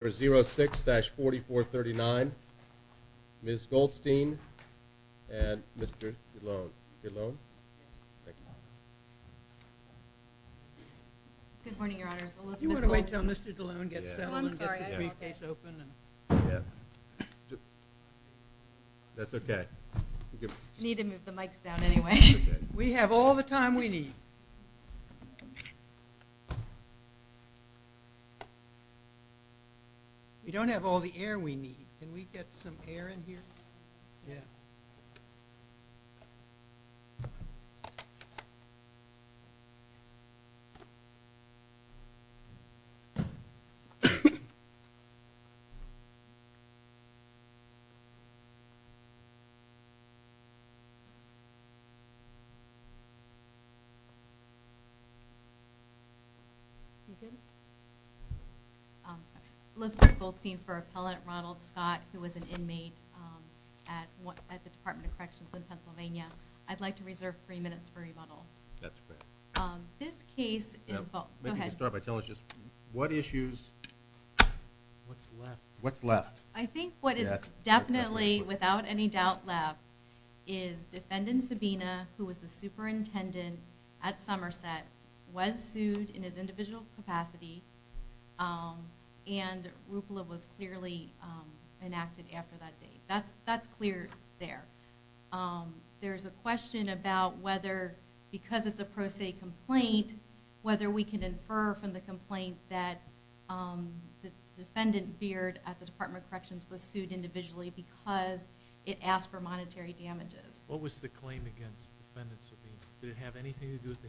for 06-4439. Ms. Goldstein and Mr. DeLoone, DeLoone, thank you. Good morning your honors. You want to wait till Mr. DeLoone gets settled and gets his briefcase open? That's okay. You need to move the mics down anyway. We have all the time we need. We don't have all the air we need. Can we get some air in here? Yeah. Thank you. I'm sorry. Elizabeth Goldstein for Appellant Ronald Scott who was an inmate at the Department of Corrections in Pennsylvania. I'd like to reserve three minutes for rebuttal. That's fair. This case, what issues, what's left? I think what is definitely without any doubt left is Defendant Sabina who was the superintendent at Somerset was sued in his individual capacity and RUPLA was clearly enacted after that date. That's clear there. There's a question about whether because it's a pro se complaint whether we can infer from the complaint that the defendant Beard at the Department of Corrections was sued individually because it asked for monetary damages. What was the claim against Defendant Sabina? Did it have anything to do with the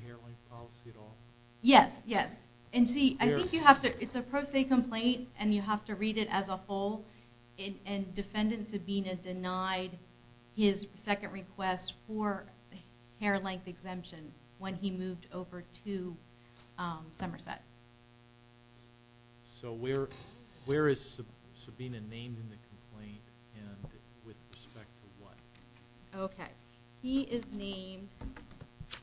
It's a pro se complaint and you have to read it as a whole. Defendant Sabina denied his second request for hair length exemption when he moved over to Somerset. So where is Sabina named in the complaint and with respect to what? Okay. He is named in the complaint.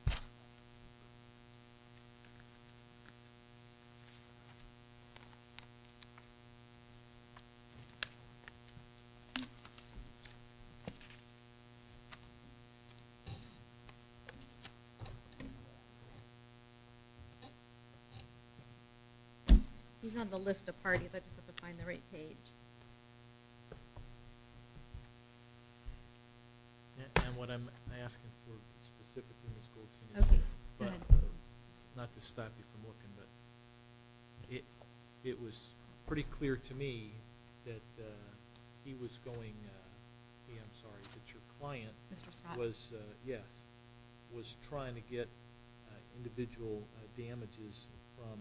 He's on the list of parties. I just have to find the right page. And what I'm asking for specifically Ms. Goldstein is not to stop you from working but it was pretty clear to me that he was going, I'm sorry, that your client was trying to get individual damages from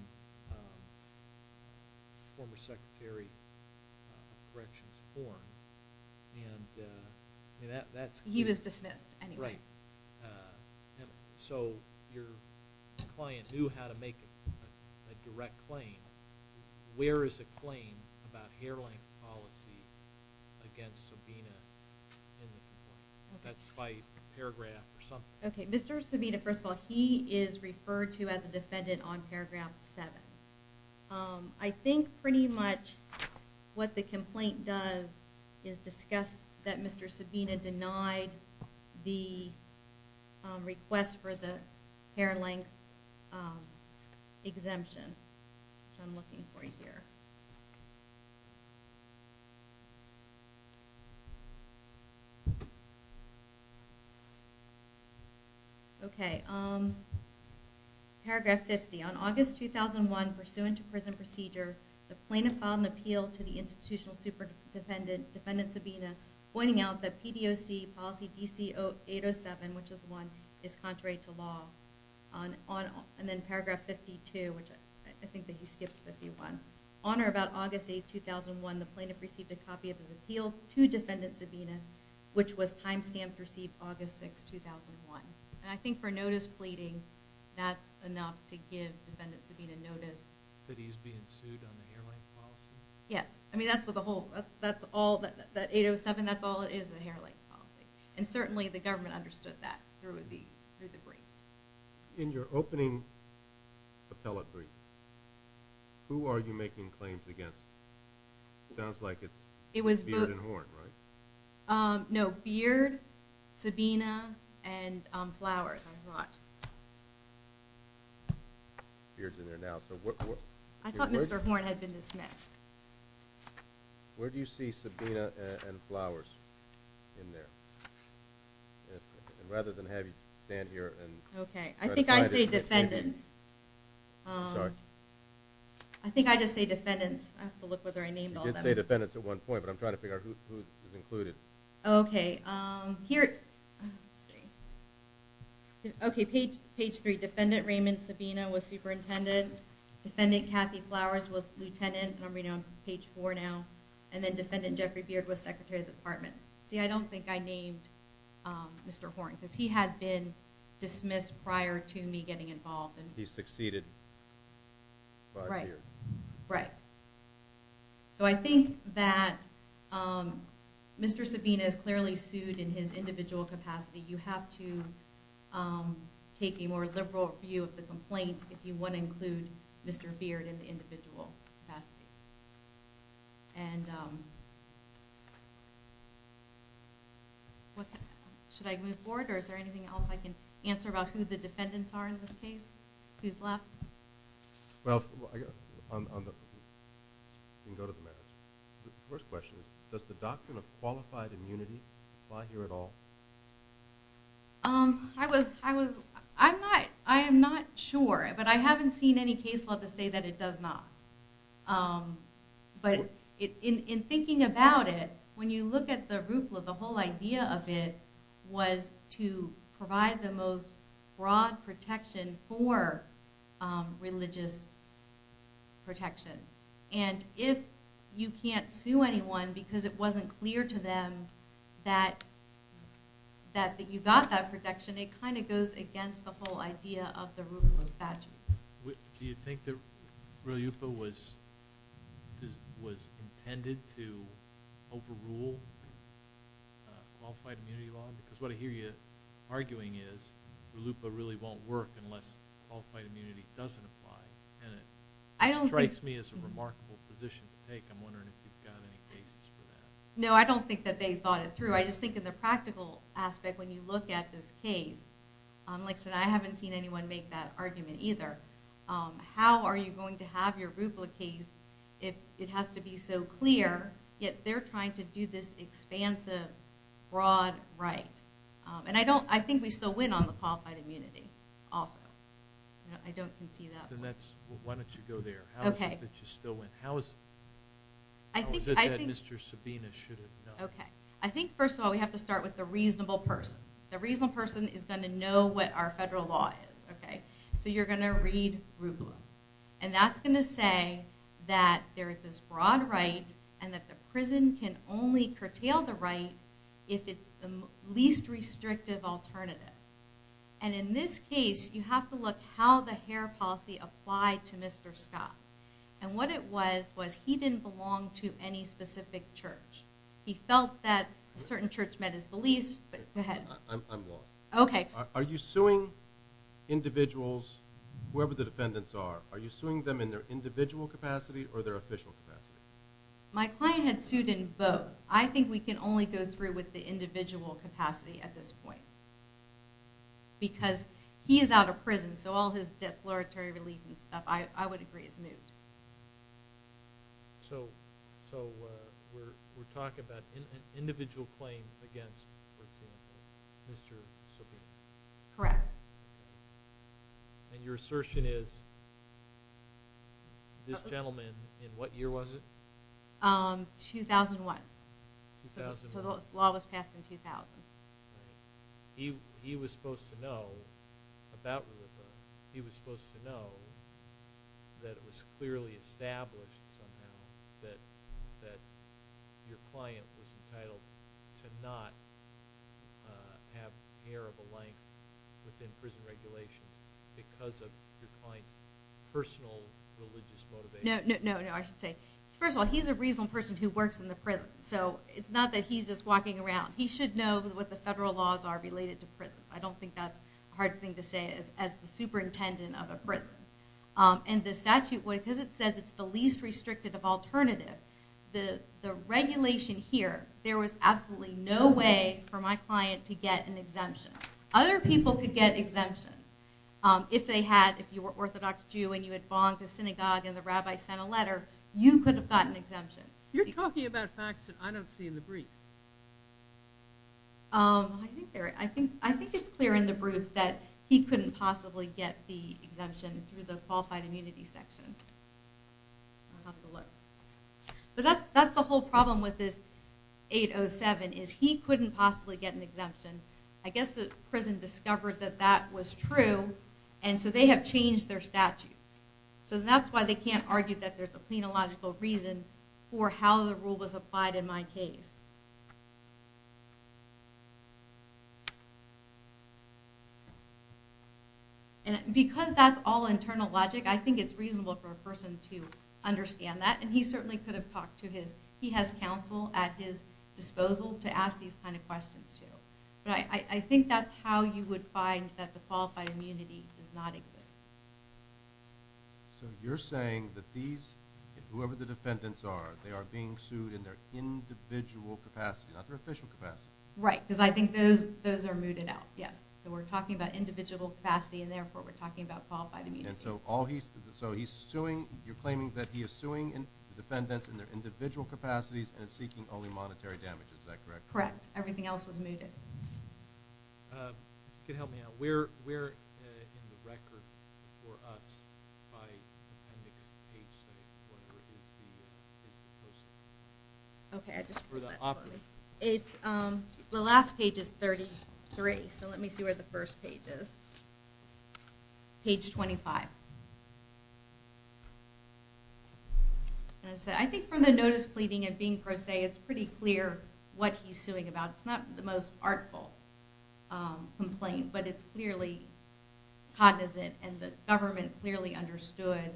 former Secretary of Corrections Horn. He was dismissed anyway. And so your client knew how to make a direct claim. Where is a claim about hair length policy against Sabina in the complaint? That's by paragraph or something. Okay. Mr. Sabina, first of all, he is referred to as a defendant on paragraph 7. I think pretty much what the request for the hair length exemption, which I'm looking for here. Okay. Paragraph 50. On August 2001, pursuant to prison procedure, the plaintiff filed an appeal to the institutional super defendant, defendant Sabina, pointing out that PDOC policy DC807, which is the one, is contrary to law. And then paragraph 52, which I think that he skipped 51. On or about August 8, 2001, the plaintiff received a copy of his appeal to defendant Sabina, which was time stamped received August 6, 2001. And I think for notice pleading, that's enough to give defendant Sabina notice. That he's being sued on the hair length policy? Yes. I mean, that's what the whole, that's all, that 807, that's all it is, the hair length policy. And certainly the government understood that through the briefs. In your opening appellate brief, who are you making claims against? It sounds like it's Beard and Horn, right? No, Beard, Sabina, and Flowers, I thought. Beard's in there now. I thought Mr. Horn had been dismissed. Where do you see Sabina and Flowers in there? And rather than have you stand here and. Okay, I think I say defendants. I think I just say defendants. I have to look whether I named all of them. You did say defendants at one point, but I'm trying to figure out who is included. Okay, here, let's see. Okay, page three. Defendant Raymond Sabina was superintendent. Defendant Kathy Flowers was lieutenant. And I'm reading on page four now. And then defendant Jeffrey Beard was secretary of the department. See, I don't think I named Mr. Horn because he had been dismissed prior to me getting involved. And he succeeded. Right, right. So I think that Mr. Sabina is clearly sued in his individual capacity. You have to take a more liberal view of the complaint if you want to include Mr. Beard in the individual capacity. And what should I move forward? Or is there anything else I can answer about who defendants are in this case? Who's left? Well, on the first question, does the doctrine of qualified immunity apply here at all? I was, I was, I'm not, I am not sure, but I haven't seen any case law to say that it does not. But in thinking about it, when you look at the RUFLA, the whole idea of it was to provide the most broad protection for religious protection. And if you can't sue anyone because it wasn't clear to them that that you got that protection, it kind of goes against the whole idea of the RUFLA statute. Do you think that RUFLA was intended to overrule qualified immunity law? Because what I hear you arguing is RUFLA really won't work unless qualified immunity doesn't apply. And it strikes me as a remarkable position to take. I'm wondering if you've got any cases for that. No, I don't think that they thought it through. I just think in the practical aspect, when you look at this case, like I said, I haven't seen anyone make that argument either. How are you going to have your RUFLA case if it has to be so clear, yet they're trying to do this expansive broad right? And I don't, I think we still win on the qualified immunity also. I don't concede that. Then that's, why don't you go there? How is it that you still win? How is it that Mr. Sabina should have known? Okay, I think first of all we have to start with the reasonable person. The reasonable person is going to know what our federal law is, okay? So you're going to read RUFLA. And that's going to say that there is this broad right and that the prison can only curtail the right if it's the least restrictive alternative. And in this case, you have to look how the hair policy applied to Mr. Scott. And what it was, was he didn't belong to any specific church. He felt that a certain church met his beliefs, but go ahead. I'm lost. Okay. Are you suing individuals, whoever the defendants are, are you suing them in their individual capacity or their official capacity? My client had sued in both. I think we can only go through with the individual capacity at this point. Because he is out of prison, so all his defloratory relief and stuff, I would agree is moot. So we're talking about an individual claim against Mr. Sabina. Correct. And your assertion is this gentleman in what year was it? 2001. So the law was passed in 2000. He was supposed to know that it was clearly established somehow that your client was entitled to not have hair of a length within prison regulations because of your client's personal religious motivation. No, no, no. I should say, first of all, he's a reasonable person who works in the prison. So it's not that he's just walking around. He should know what the federal laws are related to prisons. I don't think that's a hard thing to say as the superintendent of a prison. And the statute, because it says it's the least restricted of alternative, the regulation here, there was absolutely no way for my client to get an exemption. Other people could get exemptions. If they had, if you were Orthodox Jew and you had bonged a synagogue and the rabbi sent a letter, you could have gotten exemption. You're talking about facts that I don't see in the brief. I think it's clear in the brief that he couldn't possibly get the exemption through the qualified immunity section. We'll have to look. But that's the whole problem with this 807 is he couldn't possibly get an exemption. I guess the prison discovered that that was true and so they have changed their statute. So that's why they can't argue that there's a case. And because that's all internal logic, I think it's reasonable for a person to understand that. And he certainly could have talked to his, he has counsel at his disposal to ask these kinds of questions too. But I think that's how you would find that the qualified immunity does not exist. So you're saying that these, whoever the defendants are, they are being not their official capacity. Right. Because I think those, those are mooted out. Yes. So we're talking about individual capacity and therefore we're talking about qualified immunity. And so all he's, so he's suing, you're claiming that he is suing the defendants in their individual capacities and seeking only monetary damage. Is that correct? Correct. Everything else was mooted. You could help me out. Where in the record for us by appendix page, I think, whatever it is, is the person. Okay. I just, it's, the last page is 33. So let me see where the first page is. Page 25. And it said, I think for the notice pleading and being it's pretty clear what he's suing about. It's not the most artful complaint, but it's clearly cognizant and the government clearly understood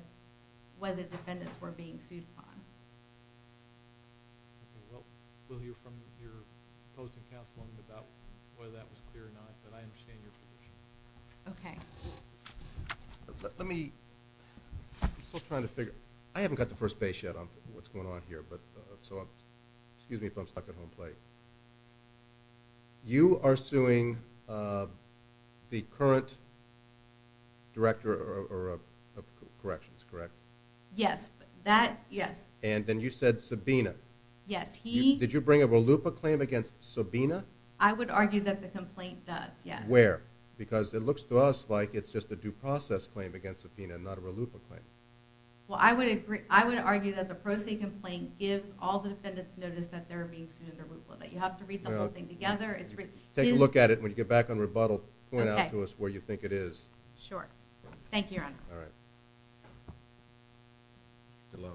what the defendants were being sued upon. We'll hear from your opposing counsel about whether that was clear or not, but I understand your position. Okay. Let me, I'm still trying to figure, I haven't got the excuse me if I'm stuck at home plate. You are suing the current director of corrections, correct? Yes. That, yes. And then you said Sabina. Yes. He, did you bring a RLUIPA claim against Sabina? I would argue that the complaint does, yes. Where? Because it looks to us like it's just a due process claim against Sabina, not a RLUIPA claim. Well, I would agree, I would argue that the pro se complaint gives all the defendants notice that they're being sued under RLUIPA. You have to read the whole thing together. Take a look at it. When you get back on rebuttal, point out to us where you think it is. Sure. Thank you, Your Honor. All right. Good luck.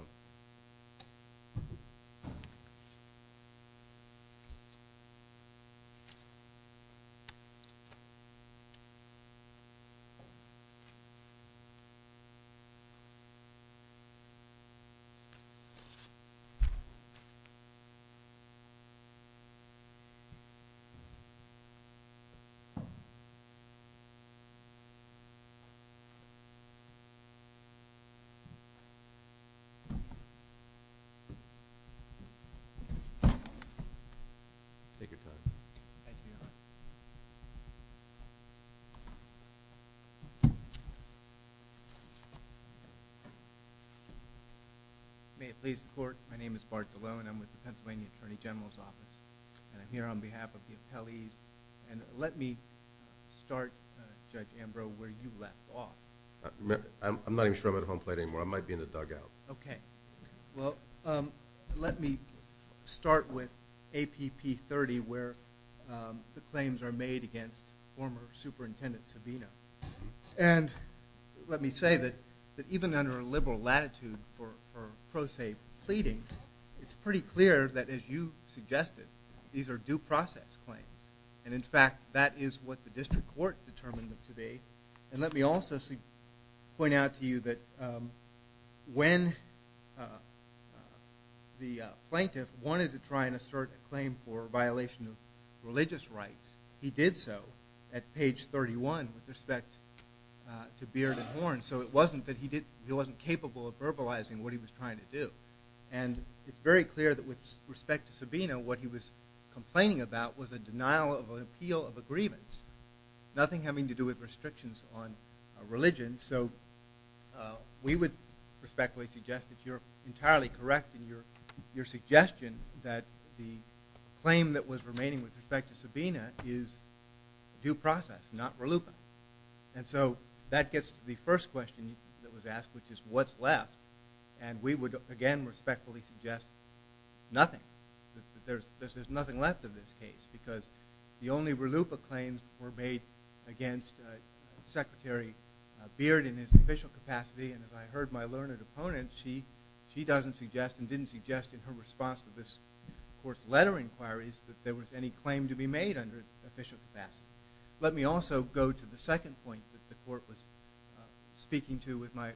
Take your time. Thank you, Your Honor. May it please the court, my name is Bart DeLow and I'm with the Pennsylvania Attorney General's Office and I'm here on behalf of the appellees and let me start, Judge Ambrose, where you left off. I'm not even sure I'm at home plate anymore. I might be in the dugout. Okay. Well, let me start with APP30 where the claims are made against former Superintendent Sabina. And let me say that even under a liberal latitude for pro se pleadings, it's pretty clear that, as you suggested, these are due process claims. And in fact, that is what the district court determined today. And let me also point out to you that when the plaintiff wanted to try and assert a claim for violation of religious rights, he did so at page 31 with respect to Beard and Horn. So it wasn't that he wasn't capable of verbalizing what he was trying to do. And it's very clear that with respect to Sabina, what he was complaining about was a denial of an agreement, nothing having to do with restrictions on religion. So we would respectfully suggest that you're entirely correct in your suggestion that the claim that was remaining with respect to Sabina is due process, not RLUIPA. And so that gets to the first question that was asked, which is what's left. And we would, again, respectfully suggest nothing. There's nothing left of this case, because the only RLUIPA claims were made against Secretary Beard in his official capacity. And as I heard my learned opponent, she doesn't suggest and didn't suggest in her response to this court's letter inquiries that there was any claim to be made under official capacity. Let me also go to the second point that the court was speaking to with my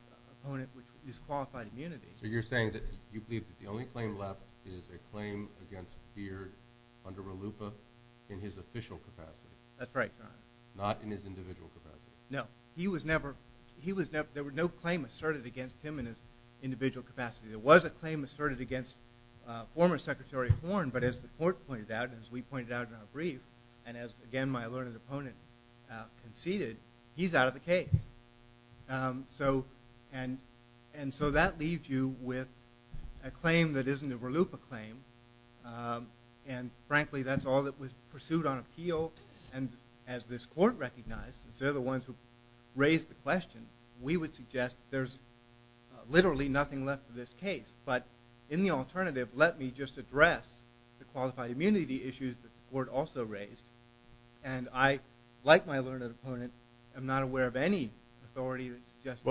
opponent, which is qualified immunity. So you're saying that you believe that the only claim left is a claim against Beard under RLUIPA in his official capacity? That's right, John. Not in his individual capacity? No. He was never, he was never, there were no claims asserted against him in his individual capacity. There was a claim asserted against former Secretary Horn, but as the court pointed out, as we pointed out in our brief, and as again my learned opponent conceded, he's out of the case. And so that leaves you with a claim that isn't a RLUIPA claim. And frankly, that's all that was pursued on appeal. And as this court recognized, and so the ones who raised the question, we would suggest there's literally nothing left of this case. But in the alternative, let me just address the qualified immunity issues that the court also raised. And I, like my learned opponent, am not aware of any authority that suggests.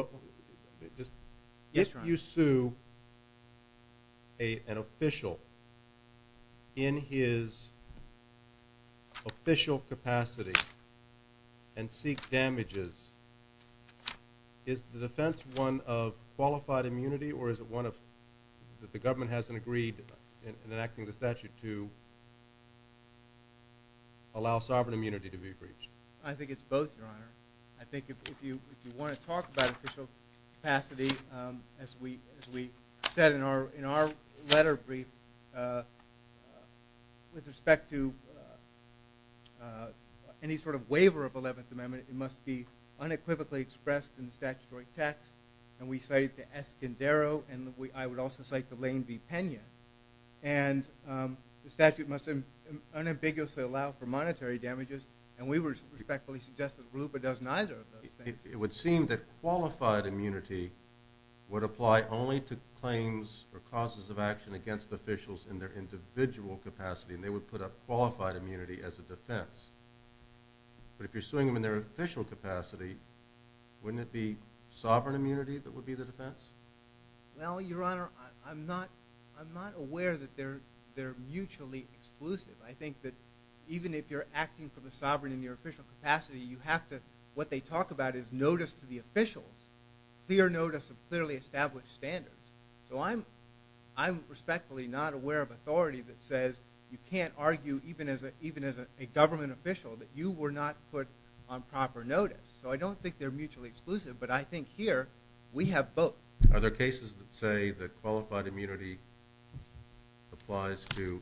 If you sue an official in his official capacity and seek damages, is the defense one of qualified immunity or is it one of, that the government hasn't agreed in enacting the statute to allow sovereign immunity to be breached? I think it's both, your honor. I think if you, if you want to talk about official capacity, as we, as we said in our, in our letter brief, with respect to any sort of waiver of 11th Amendment, it must be unequivocally expressed in the statutory text. And we cited the Escondero, and I would also cite the Lane v. Pena. And the statute must unambiguously allow for monetary damages. And we would respectfully suggest that RLUIPA does neither of those things. It would seem that qualified immunity would apply only to claims or causes of action against officials in their individual capacity, and they would put up qualified immunity as a defense. But if you're suing them in their official capacity, wouldn't it be sovereign immunity that would be the defense? Well, your honor, I'm not, I'm not aware that they're, they're mutually exclusive. I think that even if you're acting for the sovereign in your official capacity, you have to, what they talk about is notice to the officials, clear notice of clearly established standards. So I'm, I'm respectfully not aware of authority that says you can't argue even as a, even as a government official that you were not put on proper notice. So I don't think they're mutually exclusive, but I think here we have both. Are there cases that say that qualified immunity applies to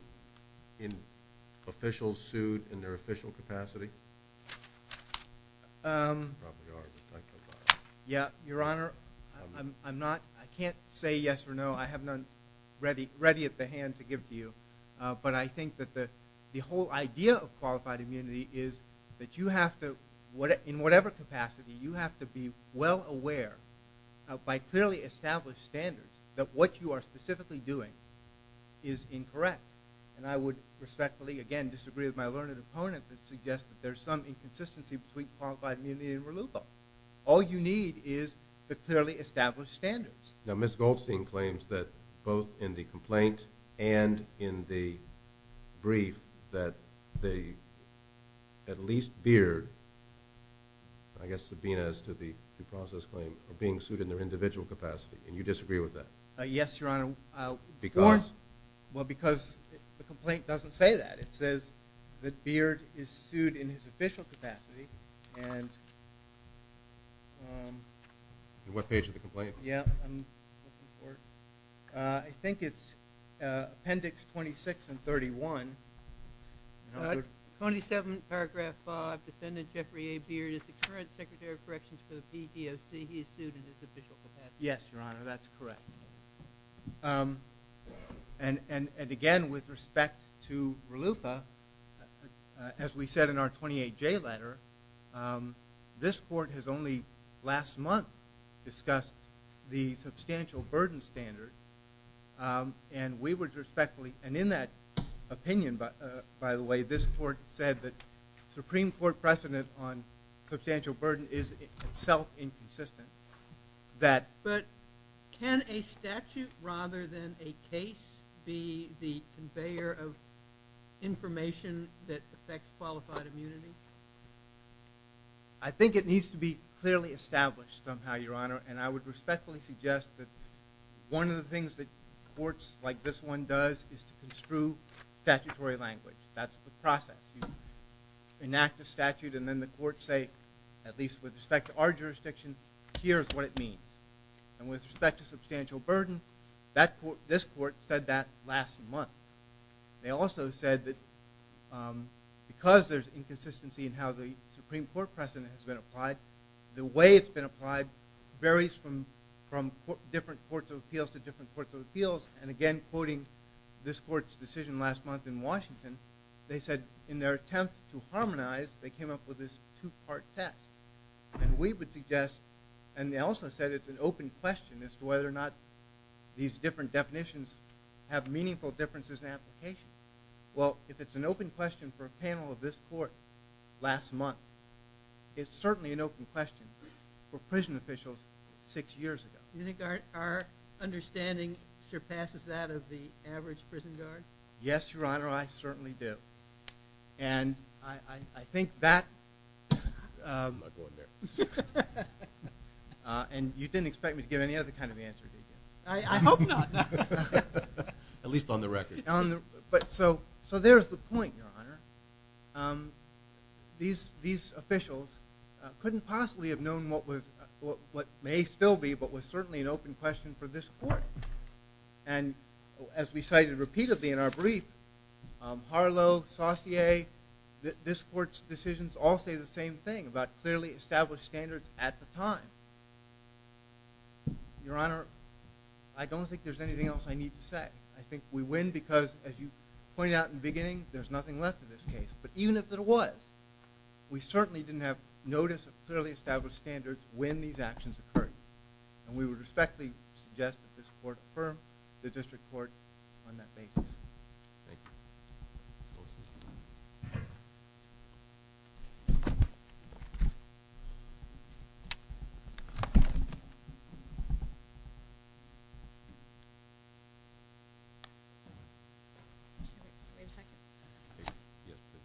officials sued in their official capacity? Yeah, your honor, I'm not, I can't say yes or no. I have none ready, ready at the hand to give to but I think that the, the whole idea of qualified immunity is that you have to, in whatever capacity, you have to be well aware by clearly established standards that what you are specifically doing is incorrect. And I would respectfully, again, disagree with my learned opponent that suggests that there's some inconsistency between qualified immunity and reluctant. All you need is the clearly established standards. Now, Ms. Goldstein claims that both in the complaint and in the brief that the, at least Beard, I guess Sabina as to the due process claim, are being sued in their individual capacity. And you disagree with that? Yes, your honor. Well, because the complaint doesn't say that. It says that Beard is sued in his official capacity and what page of the complaint? Yeah, I'm looking for it. I think it's appendix 26 and 31. 27 paragraph 5, defendant Jeffrey A. Beard is the current secretary of corrections for the PDOC. He is sued in his official capacity. Yes, your honor. That's correct. And, and, and again, with respect to RLUFA, as we said in our 28J letter, this court has only last month discussed the substantial burden standard. And we would respectfully, and in that opinion, by the way, this court said that Supreme Court precedent on substantial burden is itself inconsistent. But can a statute rather than a case be the conveyor of information that affects qualified immunity? I think it needs to be clearly established somehow, your honor. And I would respectfully suggest that one of the things that courts like this one does is to construe statutory language. That's the process. You enact a statute and then the courts say, at least with respect to our what it means. And with respect to substantial burden, that court, this court said that last month. They also said that because there's inconsistency in how the Supreme Court precedent has been applied, the way it's been applied varies from, from different courts of appeals to different courts of appeals. And again, quoting this court's decision last month in Washington, they said in their attempt to harmonize, they came up with this two part test. And we would suggest and they also said it's an open question as to whether or not these different definitions have meaningful differences in application. Well, if it's an open question for a panel of this court last month, it's certainly an open question for prison officials six years ago. Do you think our understanding surpasses that of the average prison guard? Yes, Your Honor, I certainly do. And I think that, and you didn't expect me to give any other kind of answer, did you? I hope not. At least on the record. But so, so there's the point, Your Honor. These, these officials couldn't possibly have known what was, what may still be, but was certainly an open question for this court. And as we cited repeatedly in our brief, Harlow, Saucier, this court's decisions all say the same thing about clearly established standards at the time. Your Honor, I don't think there's anything else I need to say. I think we win because, as you pointed out in the beginning, there's nothing left of this case. But even if there was, we certainly didn't have notice of clearly established standards when these actions occurred. And we would respectfully suggest that this court affirm the district court on that basis. Thank you. Wait a second. Yes, please.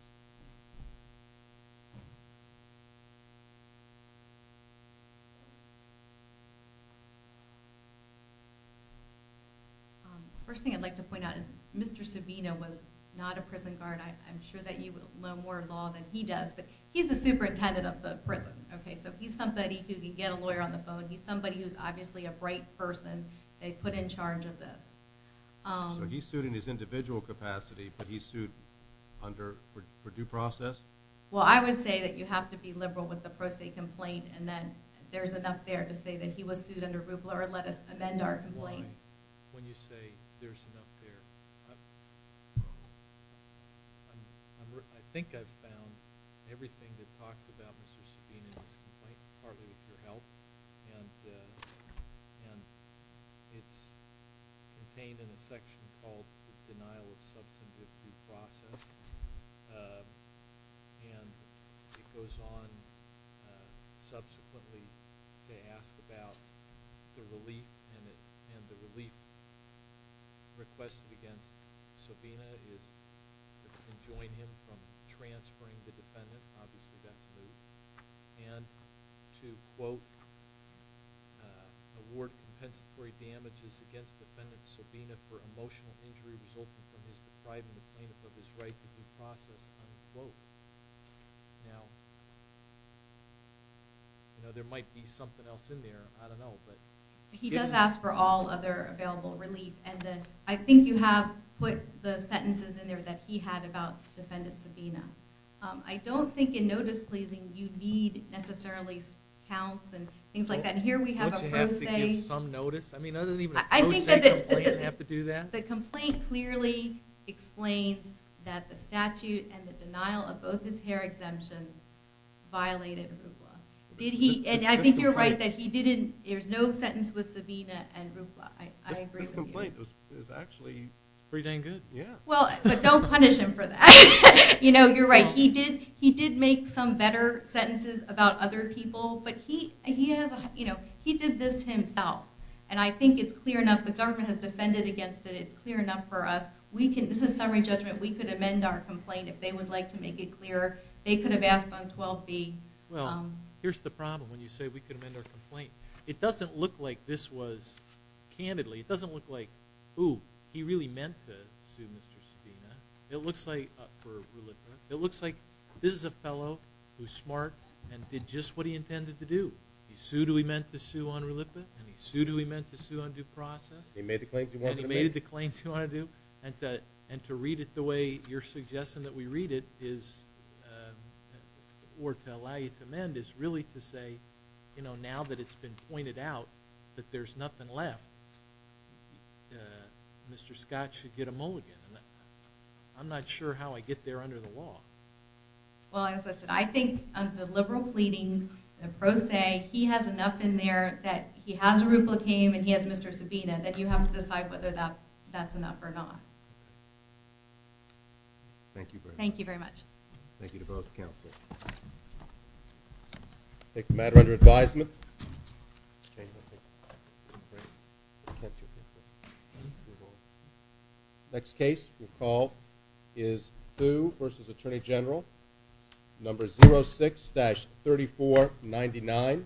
First thing I'd like to point out is Mr. Subino was not a prison guard. I'm sure that you would learn more in law than he does. But he's the superintendent of the prison. Okay, so he's somebody who can get a lawyer on the phone. He's somebody who's obviously a bright person. They put in charge of this. So he's sued in his individual capacity, but he's sued under, for due process? Well, I would say that you have to be liberal with the pro se complaint. And then there's enough there to say that he was sued under RUPLA or let us amend our complaint. When you say there's enough there, I think I've found everything that talks about Mr. Subino's complaint partly with your help. And it's contained in a section called the denial of substantive due process. And it goes on subsequently to ask about the relief and the relief requested against Subino is to enjoin him from transferring the defendant. Obviously, that's rude. And to quote, award compensatory damages against defendant Subino for emotional injury resulting from his depriving the plaintiff of his right to due process. Now, there might be something else in there. I don't know. He does ask for all other available relief. And then I think you have put the sentences in there that he had about defendant Subino. I don't think in notice pleasing, you need necessarily counts and things like that. And here we have a pro se. Don't you have to give some notice? I mean, other than even a pro se complaint, you have to do that? The complaint clearly explains that the statute and the denial of both his hair exemptions violated RUFLA. And I think you're right that there's no sentence with Subino and RUFLA. This complaint is actually pretty dang good. Yeah. Well, but don't punish him for that. You know, you're right. He did make some better sentences about other people. But he did this himself. And I think it's clear enough. The government has defended against it. It's clear enough for us. This is summary judgment. We could amend our complaint if they would like to make it clearer. They could have asked on 12B. Well, here's the problem when you say we could amend our complaint. It doesn't look like this was candidly. It doesn't look like, ooh, he really meant to sue Mr. Subino. It looks like for RUFLA. It looks like this is a fellow who's smart and did just what he intended to do. He sued who he meant to sue on RUFLA. And he sued who he meant to sue on due process. He made the claims he wanted to make. And he made the claims he wanted to do. And to read it the way you're suggesting that we read it or to allow you to amend is really to say, you know, now that it's been pointed out that there's nothing left, Mr. Scott should get a mulligan. I'm not sure how I get there under the law. Well, as I said, I think the liberal pleadings, the pro se, he has enough in there that he has a RUFLA and he has Mr. Subino that you have to decide whether that's enough or not. Thank you very much. Thank you to both counselors. Take the matter under advisement. Next case we'll call is Hu versus Attorney General, number 06-3499.